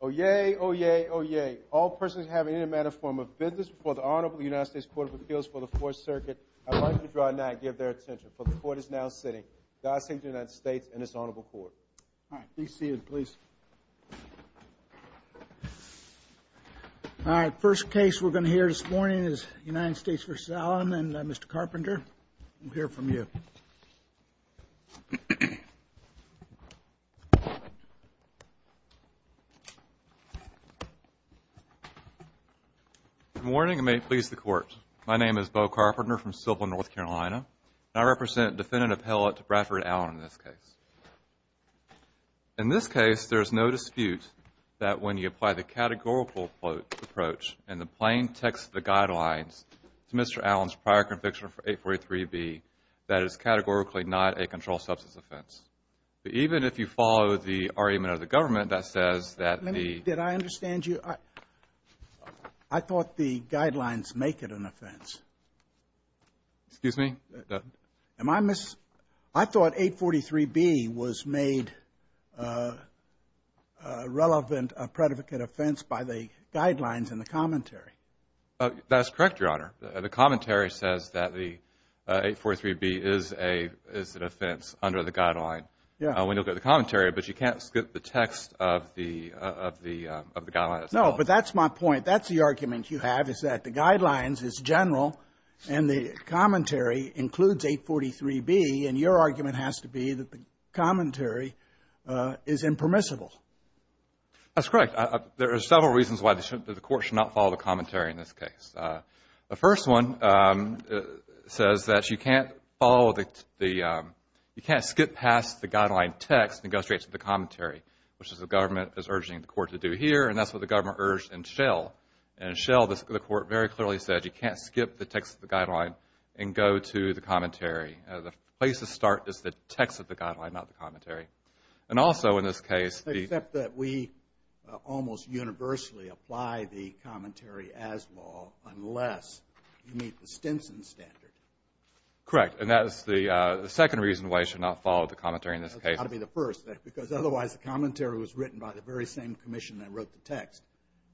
Oyez, oyez, oyez. All persons having any manner of form of business before the Honorable United States Court of Appeals for the Fourth Circuit, I'd like to draw nigh and give their attention, for the Court is now sitting. God save the United States and this Honorable Court. All right, please stand, please. All right, first case we're going to hear this morning is United States v. Allen, and Mr. Carpenter, we'll hear from you. Good morning, and may it please the Court. My name is Beau Carpenter from Silver, North Carolina, and I represent a defendant appellate to Bradford Allen in this case. In this case, there is no dispute that when you apply the categorical approach and the plain text of the guidelines to Mr. Allen's prior conviction for 843B, that it is categorically not a controlled substance offense. Even if you follow the argument of the government that says that the Let me, did I understand you? I thought the guidelines make it an offense. Excuse me? Am I, I thought 843B was made relevant, a predicate offense by the guidelines in the commentary. That's correct, Your Honor. The commentary says that the 843B is an offense under the guideline. When you look at the commentary, but you can't skip the text of the guideline. No, but that's my point. That's the argument you have, is that the guidelines is general, and the commentary includes 843B, and your argument has to be that the commentary is impermissible. That's correct. There are several reasons why the court should not follow the commentary in this case. The first one says that you can't follow the, you can't skip past the guideline text and go straight to the commentary, which is what the government is urging the court to do here, and that's what the government urged in Schell. In Schell, the court very clearly said you can't skip the text of the guideline and go to the commentary. The place to start is the text of the guideline, not the commentary. And also, in this case, the- Except that we almost universally apply the commentary as law, unless you meet the Stinson standard. Correct, and that is the second reason why you should not follow the commentary in this case. That's got to be the first, because otherwise, the commentary was written by the very same commission that wrote the text,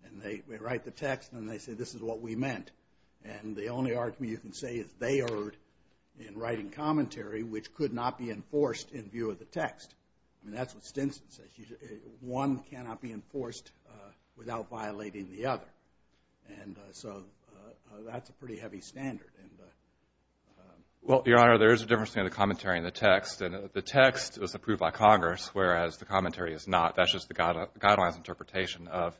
and they write the text, and they say, this is what we meant, and the only argument you can say is they erred in writing commentary, which could not be enforced in view of the text. I mean, that's what Stinson says. One cannot be enforced without violating the other, and so that's a pretty heavy standard. Well, Your Honor, there is a difference between the commentary and the text. The text was approved by Congress, whereas the commentary is not. That's just the guideline's interpretation of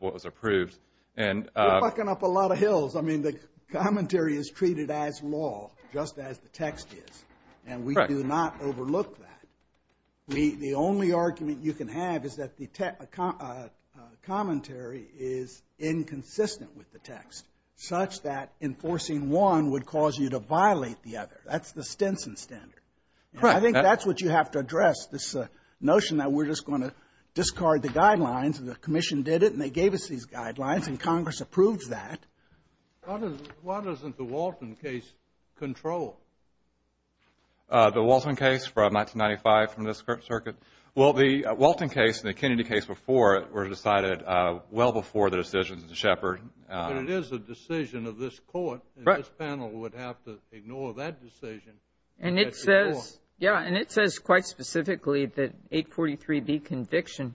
what was approved. You're bucking up a lot of hills. I mean, the commentary is treated as law, just as the text is. Correct. And we do not overlook that. The only argument you can have is that the commentary is inconsistent with the text, such that enforcing one would cause you to violate the other. That's the Stinson standard. Correct. I think that's what you have to address, this notion that we're just going to discard the guidelines, and the commission did it, and they gave us these guidelines, and Congress approved that. Why doesn't the Walton case control? The Walton case from 1995 from this circuit? Well, the Walton case and the Kennedy case before were decided well before the decisions of Shepard. But it is a decision of this Court, and this panel would have to ignore that decision. And it says quite specifically that 843B conviction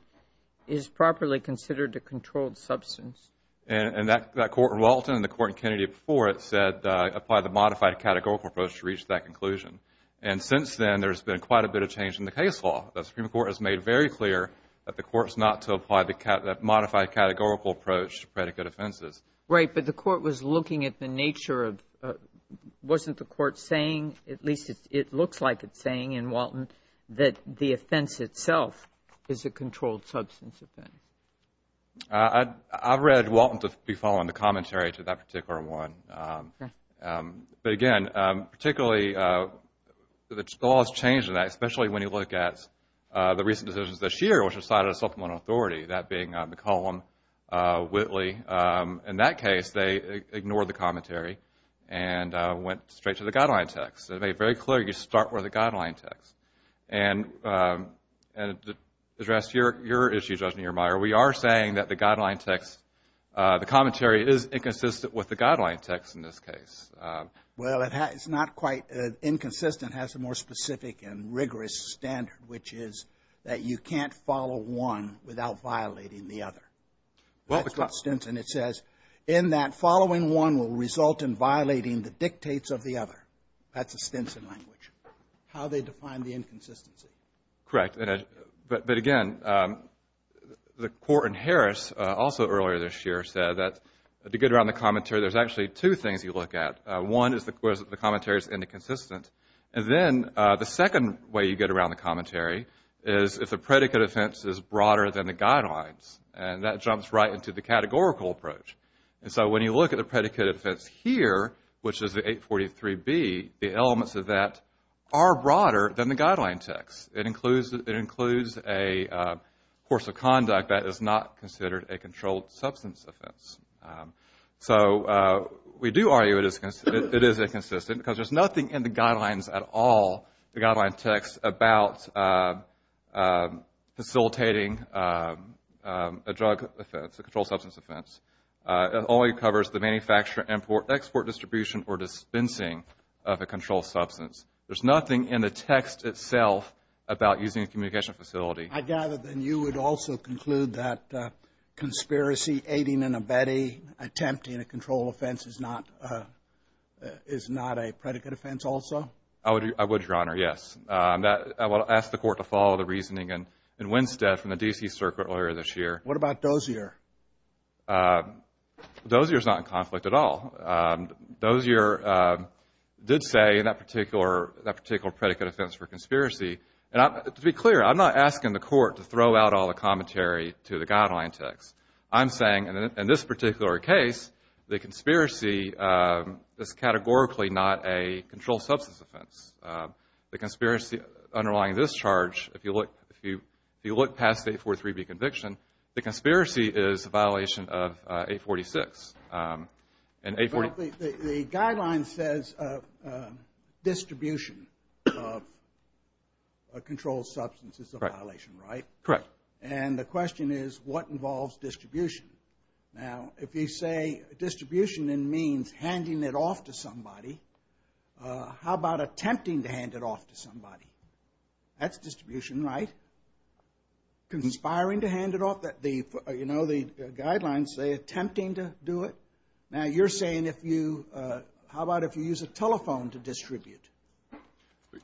is properly considered a controlled substance. And that Court in Walton and the Court in Kennedy before it said apply the modified categorical approach to reach that conclusion. And since then, there's been quite a bit of change in the case law. The Supreme Court has made very clear that the Court is not to apply the modified categorical approach to predicate offenses. Right. But the Court was looking at the nature of, wasn't the Court saying, at least it looks like it's saying in Walton, that the offense itself is a controlled substance offense? I read Walton to be following the commentary to that particular one. But, again, particularly the law has changed in that, especially when you look at the recent decisions this year, which decided a supplemental authority, that being McCollum, Whitley. In that case, they ignored the commentary and went straight to the guideline text. They made very clear you start with the guideline text. And to address your issue, Judge Neumeier, we are saying that the guideline text, the commentary is inconsistent with the guideline text in this case. Well, it's not quite inconsistent. It has a more specific and rigorous standard, which is that you can't follow one without violating the other. That's what's consistent. It says in that following one will result in violating the dictates of the other. That's a Stinson language, how they define the inconsistency. Correct. But, again, the Court in Harris also earlier this year said that to get around the commentary, there's actually two things you look at. One is that the commentary is inconsistent. And then the second way you get around the commentary is if the predicate offense is broader than the guidelines. And that jumps right into the categorical approach. And so when you look at the predicate offense here, which is the 843B, the elements of that are broader than the guideline text. It includes a course of conduct that is not considered a controlled substance offense. So we do argue it is inconsistent because there's nothing in the guidelines at all, the guideline text about facilitating a drug offense, a controlled substance offense. It only covers the manufacture, import, export, distribution, or dispensing of a controlled substance. There's nothing in the text itself about using a communication facility. I gather then you would also conclude that conspiracy, aiding and abetting, attempting a controlled offense is not a predicate offense also? I would, Your Honor, yes. I would ask the Court to follow the reasoning in Winstead from the D.C. Circuit earlier this year. What about Dozier? Dozier is not in conflict at all. Dozier did say in that particular predicate offense for conspiracy. To be clear, I'm not asking the Court to throw out all the commentary to the guideline text. I'm saying in this particular case, the conspiracy is categorically not a controlled substance offense. The conspiracy underlying this charge, if you look past the 843B conviction, the conspiracy is a violation of 846. The guideline says distribution of a controlled substance is a violation, right? Correct. And the question is, what involves distribution? Now, if you say distribution means handing it off to somebody, how about attempting to hand it off to somebody? That's distribution, right? Conspiring to hand it off, you know, the guidelines say attempting to do it. Now, you're saying how about if you use a telephone to distribute?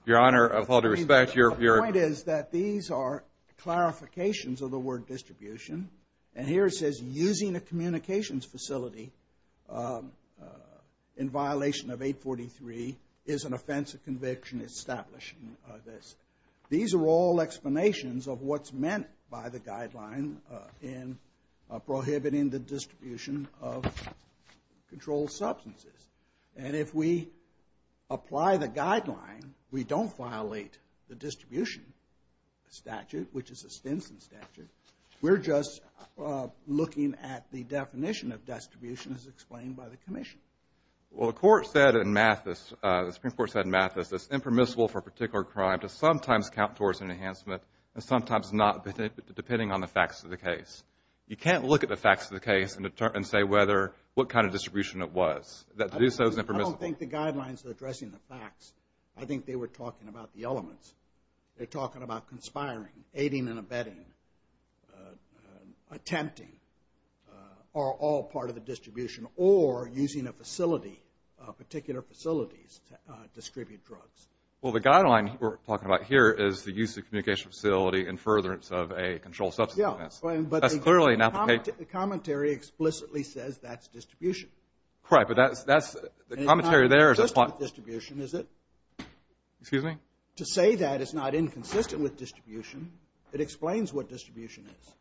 Your Honor, with all due respect, your point is that these are clarifications of the word distribution, and here it says using a communications facility in violation of 843 is an offense of conviction establishing this. These are all explanations of what's meant by the guideline in prohibiting the distribution of controlled substances. And if we apply the guideline, we don't violate the distribution statute, which is a Stinson statute. We're just looking at the definition of distribution as explained by the Commission. Well, the Court said in Mathis, the Supreme Court said in Mathis, it's impermissible for a particular crime to sometimes count towards an enhancement and sometimes not depending on the facts of the case. You can't look at the facts of the case and say what kind of distribution it was. To do so is impermissible. I don't think the guidelines are addressing the facts. I think they were talking about the elements. They're talking about conspiring, aiding and abetting, attempting are all part of the distribution or using a facility, particular facilities to distribute drugs. Well, the guideline we're talking about here is the use of communication facility in furtherance of a controlled substance offense. That's clearly not the case. Yeah, but the commentary explicitly says that's distribution. Right, but that's the commentary there. It's not inconsistent with distribution, is it? Excuse me? To say that it's not inconsistent with distribution, it explains what distribution is.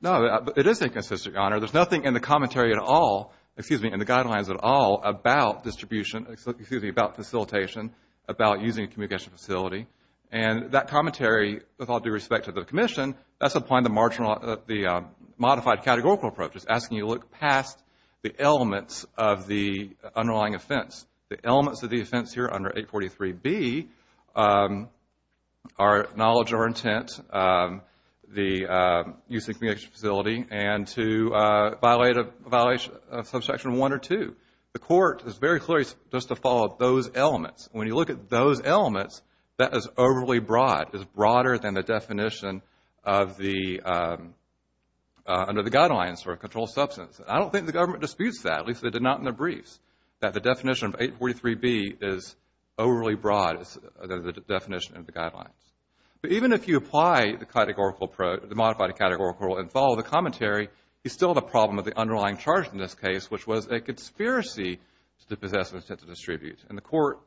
No, it is inconsistent, Your Honor. There's nothing in the commentary at all, excuse me, in the guidelines at all about distribution, excuse me, about facilitation, about using a communication facility. And that commentary, with all due respect to the Commission, that's applying the modified categorical approaches, asking you to look past the elements of the underlying offense. The elements of the offense here under 843B are knowledge or intent, the use of a communication facility, and to violate a Subsection 1 or 2. The Court is very clear just to follow those elements. When you look at those elements, that is overly broad, is broader than the definition of the, under the guidelines for a controlled substance. I don't think the government disputes that, at least they did not in their briefs, that the definition of 843B is overly broad as the definition of the guidelines. But even if you apply the modified categorical approach and follow the commentary, you still have a problem with the underlying charge in this case, which was a conspiracy to possess and attempt to distribute. And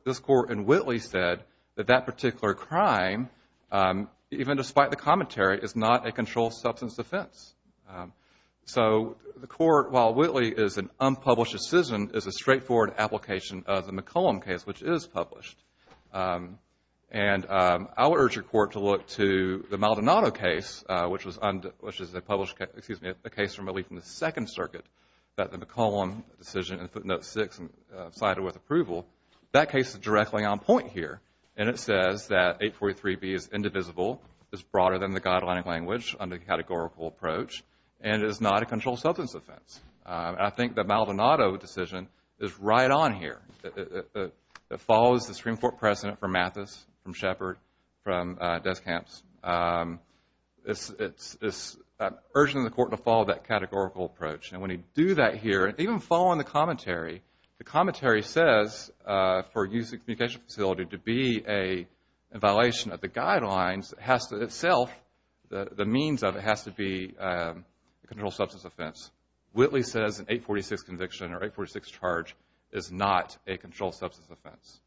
this Court in Whitley said that that particular crime, even despite the commentary, is not a controlled substance offense. So the Court, while Whitley is an unpublished decision, is a straightforward application of the McCollum case, which is published. And I would urge your Court to look to the Maldonado case, which is a case from at least the Second Circuit that the McCollum decision in footnote 6 cited with approval, that case is directly on point here. And it says that 843B is indivisible, is broader than the guideline language under the categorical approach, and is not a controlled substance offense. And I think the Maldonado decision is right on here. It follows the Supreme Court precedent from Mathis, from Shepard, from Descamps. It's urging the Court to follow that categorical approach. And when you do that here, even following the commentary, the commentary says for a used communication facility to be in violation of the guidelines, it has to itself, the means of it has to be a controlled substance offense. Whitley says an 846 conviction or 846 charge is not a controlled substance offense.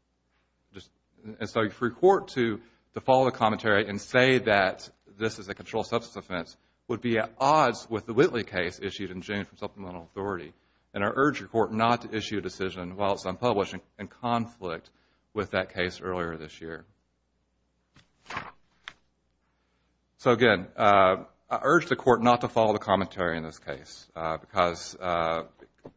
And so if your Court to follow the commentary and say that this is a controlled substance offense, would be at odds with the Whitley case issued in June from supplemental authority. And I urge your Court not to issue a decision while it's unpublished in conflict with that case earlier this year. So, again, I urge the Court not to follow the commentary in this case or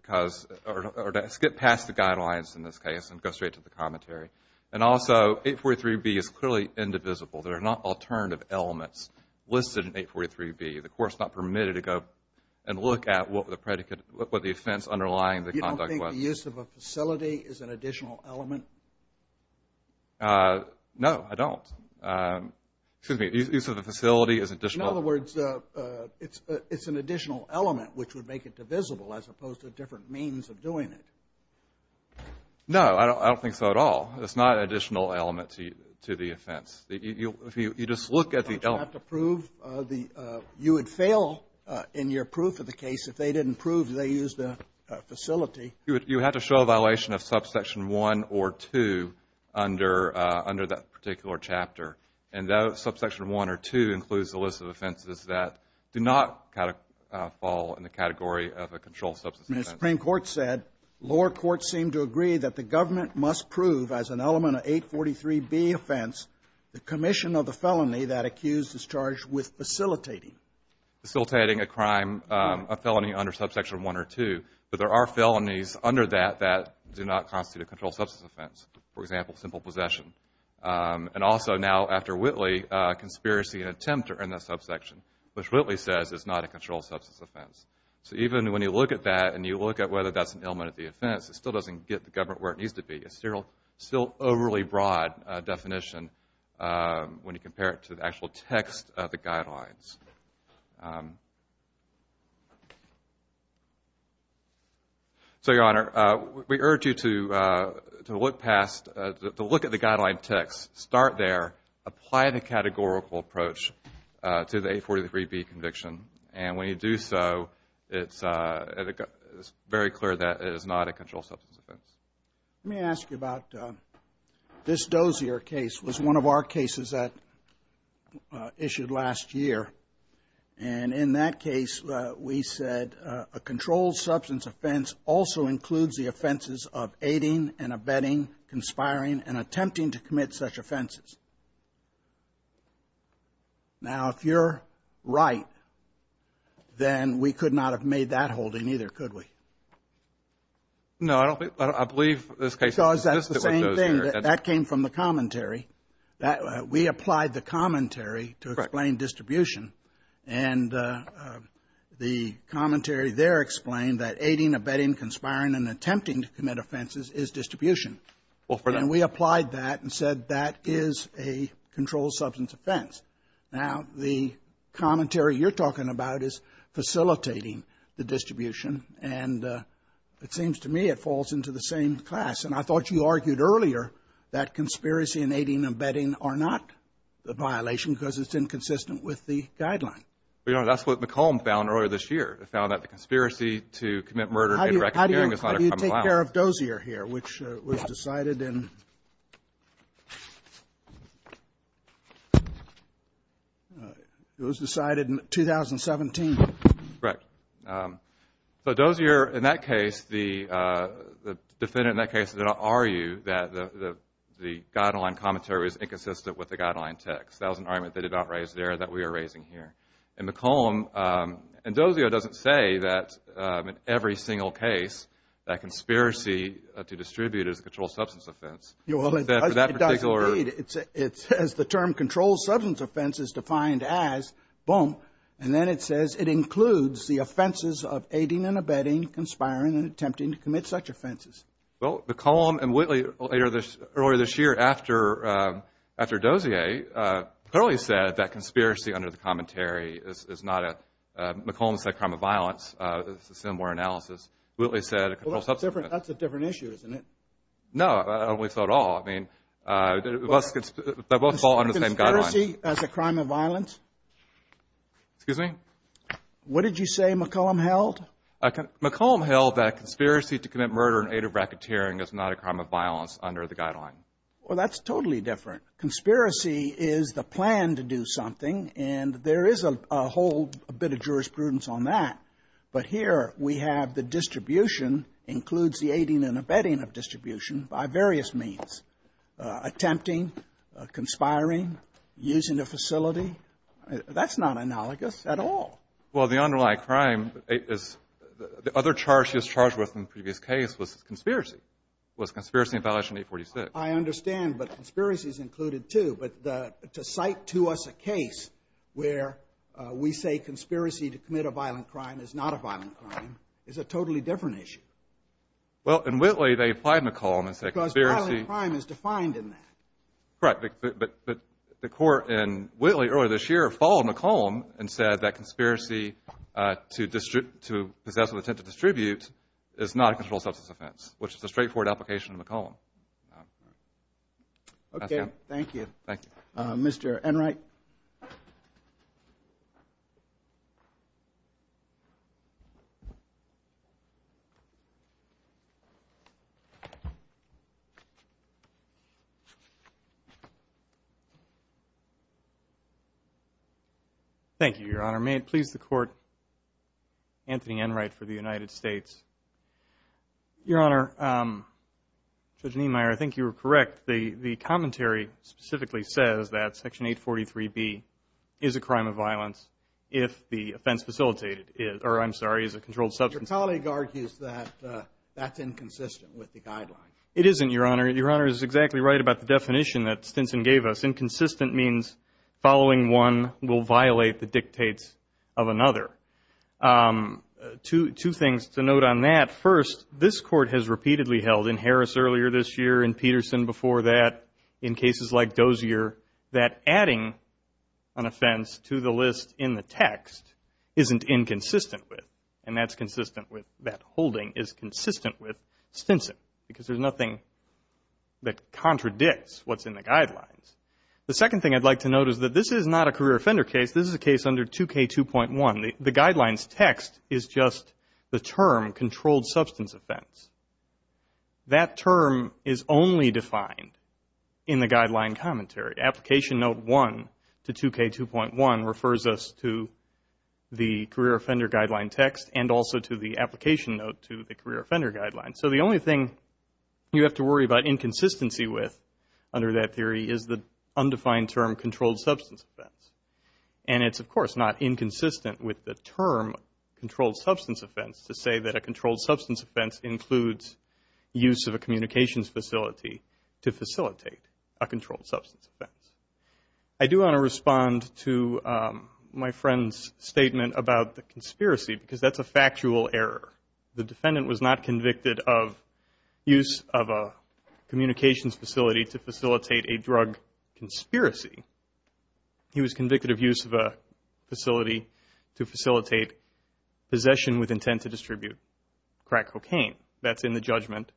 to skip past the guidelines in this case and go straight to the commentary. And also, 843B is clearly indivisible. There are not alternative elements listed in 843B. The Court is not permitted to go and look at what the offense underlying the conduct was. Do you think the use of a facility is an additional element? No, I don't. Excuse me. Use of a facility is additional. In other words, it's an additional element which would make it divisible as opposed to different means of doing it. No, I don't think so at all. It's not an additional element to the offense. If you just look at the element. Don't you have to prove the you would fail in your proof of the case if they didn't prove they used a facility? You would have to show a violation of subsection 1 or 2 under that particular chapter. And that subsection 1 or 2 includes the list of offenses that do not fall in the category of a controlled substance offense. The Supreme Court said, lower courts seem to agree that the government must prove as an element of 843B offense the commission of the felony that accused is charged with facilitating. Facilitating a crime, a felony under subsection 1 or 2. But there are felonies under that that do not constitute a controlled substance offense. For example, simple possession. And also now after Whitley, conspiracy and attempt are in that subsection, which Whitley says is not a controlled substance offense. So even when you look at that and you look at whether that's an element of the offense, it still doesn't get the government where it needs to be. It's still overly broad definition when you compare it to the actual text of the guidelines. So, Your Honor, we urge you to look past, to look at the guideline text. Start there. Apply the categorical approach to the 843B conviction. And when you do so, it's very clear that it is not a controlled substance offense. Let me ask you about this Dozier case was one of our cases that issued last year. And in that case, we said a controlled substance offense also includes the offenses of aiding and abetting, conspiring and attempting to commit such offenses. Now, if you're right, then we could not have made that holding either, could we? No, I don't believe this case. Because that's the same thing. That came from the commentary. We applied the commentary to explain distribution. And the commentary there explained that aiding, abetting, conspiring and attempting to commit offenses is distribution. And we applied that and said that is a controlled substance offense. Now, the commentary you're talking about is facilitating the distribution. And it seems to me it falls into the same class. And I thought you argued earlier that conspiracy and aiding and abetting are not a violation because it's inconsistent with the guideline. But, Your Honor, that's what McComb found earlier this year. They found that the conspiracy to commit murder and reckoning is not a criminal offense. I'm going to take care of Dozier here, which was decided in 2017. Correct. So Dozier, in that case, the defendant in that case did not argue that the guideline commentary was inconsistent with the guideline text. That was an argument they did not raise there that we are raising here. And McComb and Dozier doesn't say that in every single case that conspiracy to distribute is a controlled substance offense. Well, it does, indeed. It says the term controlled substance offense is defined as, boom, and then it says it includes the offenses of aiding and abetting, conspiring and attempting to commit such offenses. Well, McComb and Whitley earlier this year after Dozier clearly said that conspiracy under the commentary is not a, McComb said crime of violence is a similar analysis. Whitley said controlled substance offense. Well, that's a different issue, isn't it? No, I don't believe so at all. I mean, they both fall under the same guideline. Conspiracy as a crime of violence? Excuse me? What did you say McComb held? McComb held that conspiracy to commit murder in aid of racketeering is not a crime of violence under the guideline. Well, that's totally different. Conspiracy is the plan to do something, and there is a whole bit of jurisprudence on that. But here we have the distribution includes the aiding and abetting of distribution by various means, attempting, conspiring, using a facility. That's not analogous at all. Well, the underlying crime is the other charge she was charged with in the previous case was conspiracy, was conspiracy in violation of 846. I understand, but conspiracy is included, too. But to cite to us a case where we say conspiracy to commit a violent crime is not a violent crime is a totally different issue. Well, in Whitley they applied McComb and said conspiracy. Because violent crime is defined in that. Correct, but the court in Whitley earlier this year followed McComb and said that conspiracy to possess with intent to distribute is not a controlled substance offense, which is a straightforward application of McComb. Okay, thank you. Thank you. Mr. Enright? Thank you, Your Honor. May it please the Court, Anthony Enright for the United States. Your Honor, Judge Niemeyer, I think you were correct. The commentary specifically says that Section 843B is a crime of violence if the offense facilitated or, I'm sorry, is a controlled substance. Your colleague argues that that's inconsistent with the guideline. It isn't, Your Honor. Your Honor is exactly right about the definition that Stinson gave us. Inconsistent means following one will violate the dictates of another. Two things to note on that. First, this Court has repeatedly held in Harris earlier this year, in Peterson before that, in cases like Dozier, that adding an offense to the list in the text isn't inconsistent with, and that holding is consistent with Stinson because there's nothing that contradicts what's in the guidelines. The second thing I'd like to note is that this is not a career offender case. This is a case under 2K2.1. The guidelines text is just the term controlled substance offense. That term is only defined in the guideline commentary. Application Note 1 to 2K2.1 refers us to the career offender guideline text and also to the application note to the career offender guideline. So the only thing you have to worry about inconsistency with under that theory is the undefined term controlled substance offense. And it's, of course, not inconsistent with the term controlled substance offense to say that a controlled substance offense includes use of a communications facility to facilitate a controlled substance offense. I do want to respond to my friend's statement about the conspiracy because that's a factual error. The defendant was not convicted of use of a communications facility to facilitate a drug conspiracy. He was convicted of use of a facility to facilitate possession with intent to distribute crack cocaine. That's in the judgment.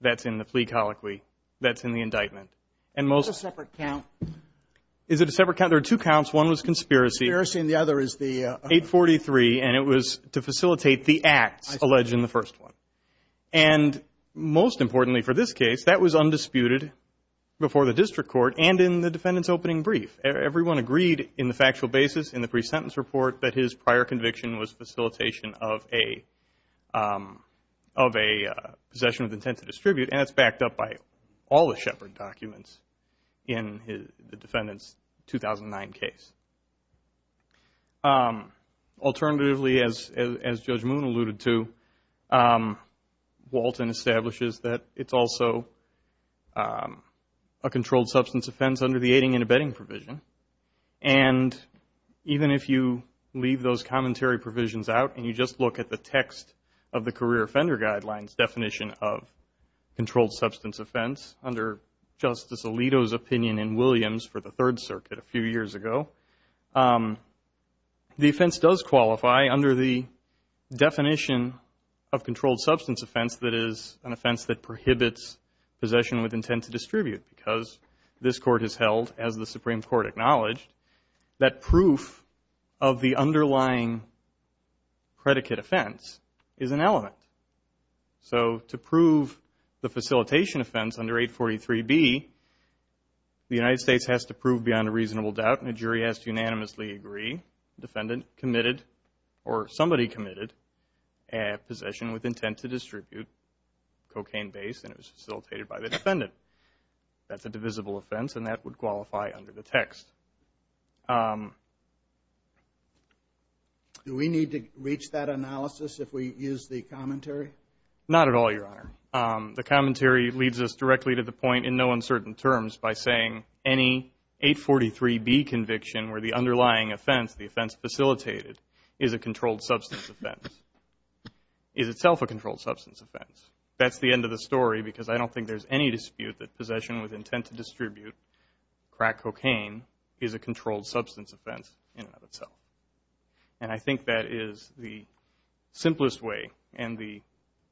That's in the plea colloquy. That's in the indictment. And most- That's a separate count. Is it a separate count? There are two counts. One was conspiracy. Conspiracy and the other is the- 843, and it was to facilitate the acts alleged in the first one. And most importantly for this case, that was undisputed before the district court and in the defendant's opening brief. Everyone agreed in the factual basis in the pre-sentence report that his prior conviction was facilitation of a possession with intent to distribute, and it's backed up by all the Shepard documents in the defendant's 2009 case. Alternatively, as Judge Moon alluded to, Walton establishes that it's also a controlled substance offense under the aiding and abetting provision. And even if you leave those commentary provisions out and you just look at the text of the career offender guidelines definition of controlled substance offense under Justice Alito's opinion in Williams for the Third Circuit a few years ago, the offense does qualify under the definition of controlled substance offense that is an offense that prohibits possession with intent to distribute because this court has held, as the Supreme Court acknowledged, that proof of the underlying predicate offense is an element. So to prove the facilitation offense under 843B, the United States has to prove beyond a reasonable doubt and a jury has to unanimously agree the defendant committed or somebody committed a possession with intent to distribute cocaine-based and it was facilitated by the defendant. That's a divisible offense and that would qualify under the text. Do we need to reach that analysis if we use the commentary? Not at all, Your Honor. The commentary leads us directly to the point in no uncertain terms by saying any 843B conviction where the underlying offense, the offense facilitated, is a controlled substance offense, is itself a controlled substance offense. That's the end of the story because I don't think there's any dispute that possession with intent to distribute crack cocaine is a controlled substance offense in and of itself. And I think that is the simplest way and the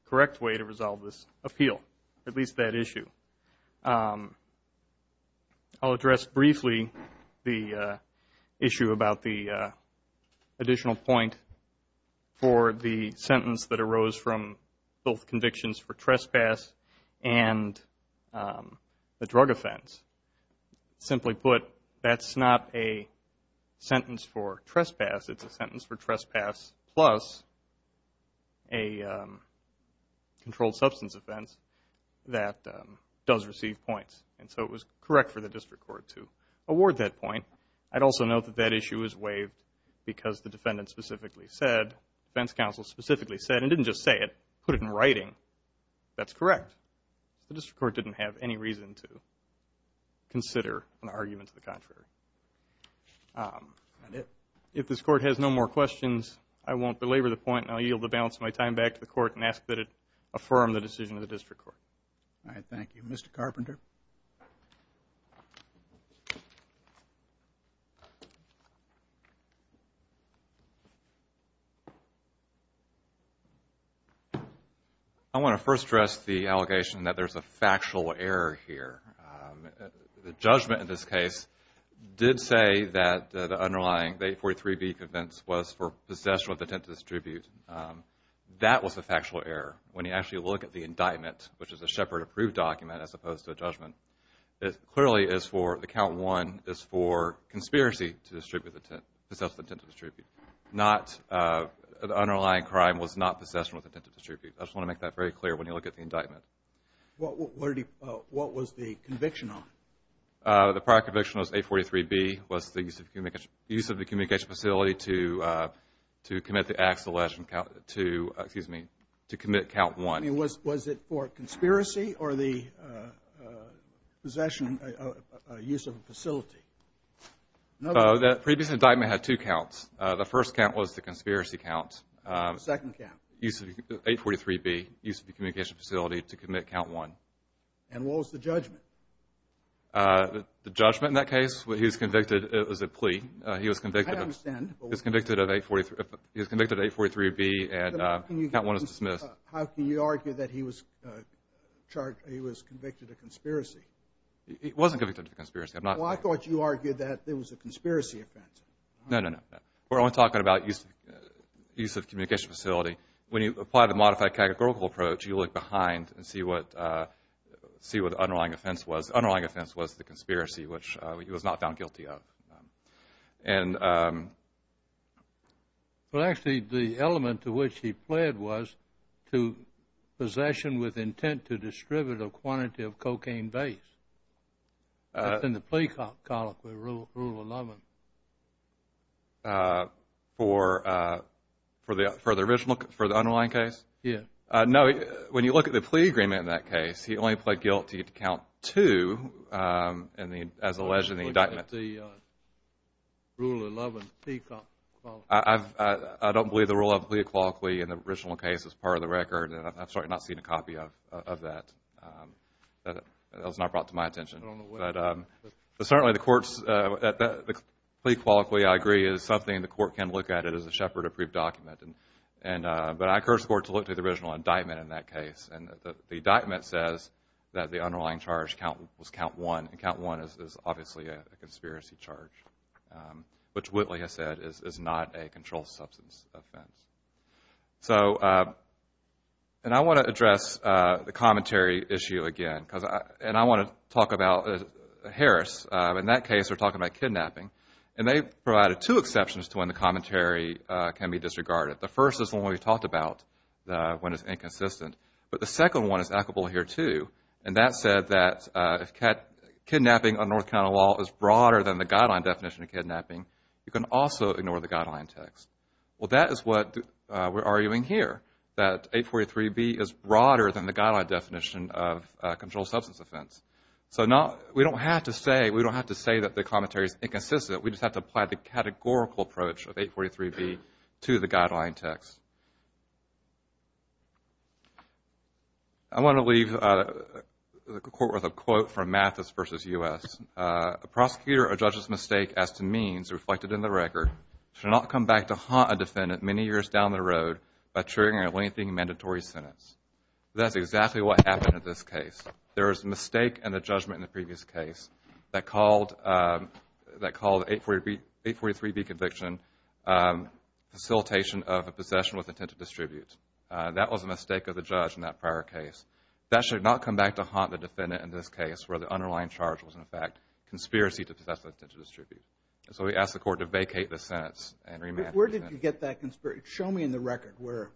correct way to resolve this appeal, at least that issue. I'll address briefly the issue about the additional point for the sentence that arose from both convictions for trespass and the drug offense. Simply put, that's not a sentence for trespass. It's a sentence for trespass plus a controlled substance offense that does receive points. And so it was correct for the district court to award that point. I'd also note that that issue is waived because the defendant specifically said, the defense counsel specifically said, and didn't just say it, put it in writing. That's correct. The district court didn't have any reason to consider an argument to the contrary. If this court has no more questions, I won't belabor the point, and I'll yield the balance of my time back to the court and ask that it affirm the decision of the district court. All right, thank you. Mr. Carpenter. I want to first stress the allegation that there's a factual error here. The judgment in this case did say that the underlying, the 843B convicts, was for possession with intent to distribute. That was a factual error. When you actually look at the indictment, which is a Shepard-approved document as opposed to a judgment, it clearly is for, the count one, is for conspiracy to distribute the intent, possess with intent to distribute. Not, the underlying crime was not possession with intent to distribute. I just want to make that very clear when you look at the indictment. What was the conviction on? The prior conviction was 843B, was the use of the communication facility to commit the acts of the alleged, excuse me, to commit count one. Was it for conspiracy or the possession, use of a facility? The previous indictment had two counts. The first count was the conspiracy count. The second count? 843B, use of the communication facility to commit count one. And what was the judgment? The judgment in that case, he was convicted, it was a plea. He was convicted of 843B and count one was dismissed. How can you argue that he was convicted of conspiracy? He wasn't convicted of conspiracy. Well, I thought you argued that it was a conspiracy offense. No, no, no. We're only talking about use of communication facility. When you apply the modified categorical approach, you look behind and see what the underlying offense was. The underlying offense was the conspiracy, which he was not found guilty of. Well, actually, the element to which he pled was to possession with intent to distribute a quantity of cocaine base. That's in the plea colloquy, Rule 11. For the underlying case? Yes. No, when you look at the plea agreement in that case, he only pled guilty to count two as alleged in the indictment. I don't believe the Rule 11 plea colloquy. I don't believe the Rule 11 plea colloquy in the original case is part of the record, and I've certainly not seen a copy of that. That was not brought to my attention. But certainly the court's plea colloquy, I agree, is something the court can look at it as a Shepard-approved document. But I encourage the court to look to the original indictment in that case. The indictment says that the underlying charge was count one, and count one is obviously a conspiracy charge, which Whitley has said is not a controlled substance offense. And I want to address the commentary issue again, and I want to talk about Harris. In that case, they're talking about kidnapping, and they provided two exceptions to when the commentary can be disregarded. The first is the one we talked about when it's inconsistent, but the second one is applicable here too, and that said that if kidnapping on North Carolina law is broader than the guideline definition of kidnapping, you can also ignore the guideline text. Well, that is what we're arguing here, that 843B is broader than the guideline definition of a controlled substance offense. We don't have to say that the commentary is inconsistent. We just have to apply the categorical approach of 843B to the guideline text. I want to leave the court with a quote from Mathis v. U.S. A prosecutor or judge's mistake as to means reflected in the record should not come back to haunt a defendant many years down the road by triggering or lengthening mandatory sentence. That's exactly what happened in this case. There was a mistake in the judgment in the previous case that called 843B conviction facilitation of a possession with intent to distribute. That was a mistake of the judge in that prior case. That should not come back to haunt the defendant in this case where the underlying charge was, in fact, conspiracy to possess with intent to distribute. So we ask the court to vacate the sentence and remand the defendant. Where did you get that conspiracy? Show me in the record where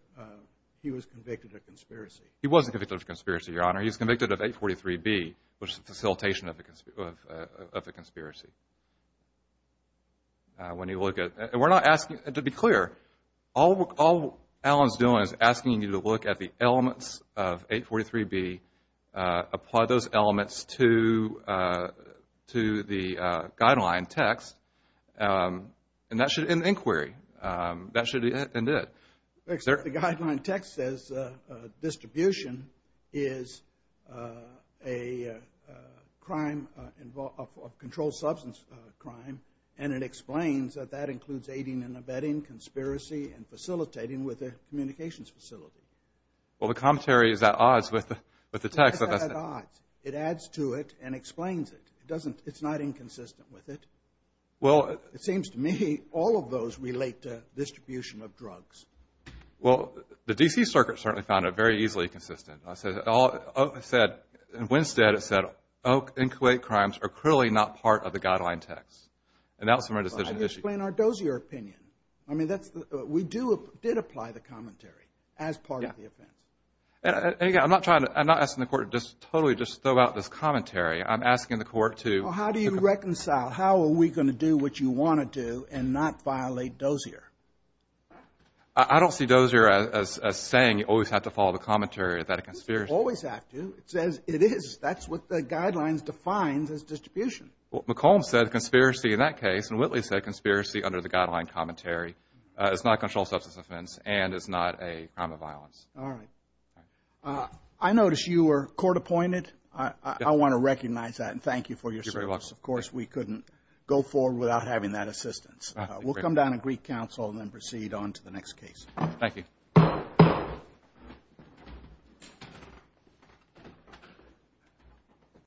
he was convicted of conspiracy. He wasn't convicted of conspiracy, Your Honor. He was convicted of 843B, which is a facilitation of a conspiracy. When you look at it, and we're not asking, to be clear, all Alan's doing is asking you to look at the elements of 843B, apply those elements to the guideline text, and that should end the inquiry. That should end it. The guideline text says distribution is a crime, a controlled substance crime, and it explains that that includes aiding and abetting, conspiracy, and facilitating with a communications facility. Well, the commentary is at odds with the text. It's at odds. It adds to it and explains it. It's not inconsistent with it. It seems to me all of those relate to distribution of drugs. Well, the D.C. Circuit certainly found it very easily consistent. It said, in Winstead, it said, Oak and Kuwait crimes are clearly not part of the guideline text, and that was from a decision issue. Explain our dozier opinion. I mean, we did apply the commentary as part of the offense. Again, I'm not asking the court to totally just throw out this commentary. I'm asking the court to... How do you reconcile? How are we going to do what you want to do and not violate dozier? I don't see dozier as saying you always have to follow the commentary. Is that a conspiracy? You always have to. It says it is. That's what the guidelines define as distribution. McComb said conspiracy in that case, and Whitley said conspiracy under the guideline commentary. It's not a controlled substance offense, and it's not a crime of violence. All right. I noticed you were court appointed. I want to recognize that, and thank you for your service. Of course, we couldn't go forward without having that assistance. We'll come down to Greek Council and then proceed on to the next case. Thank you.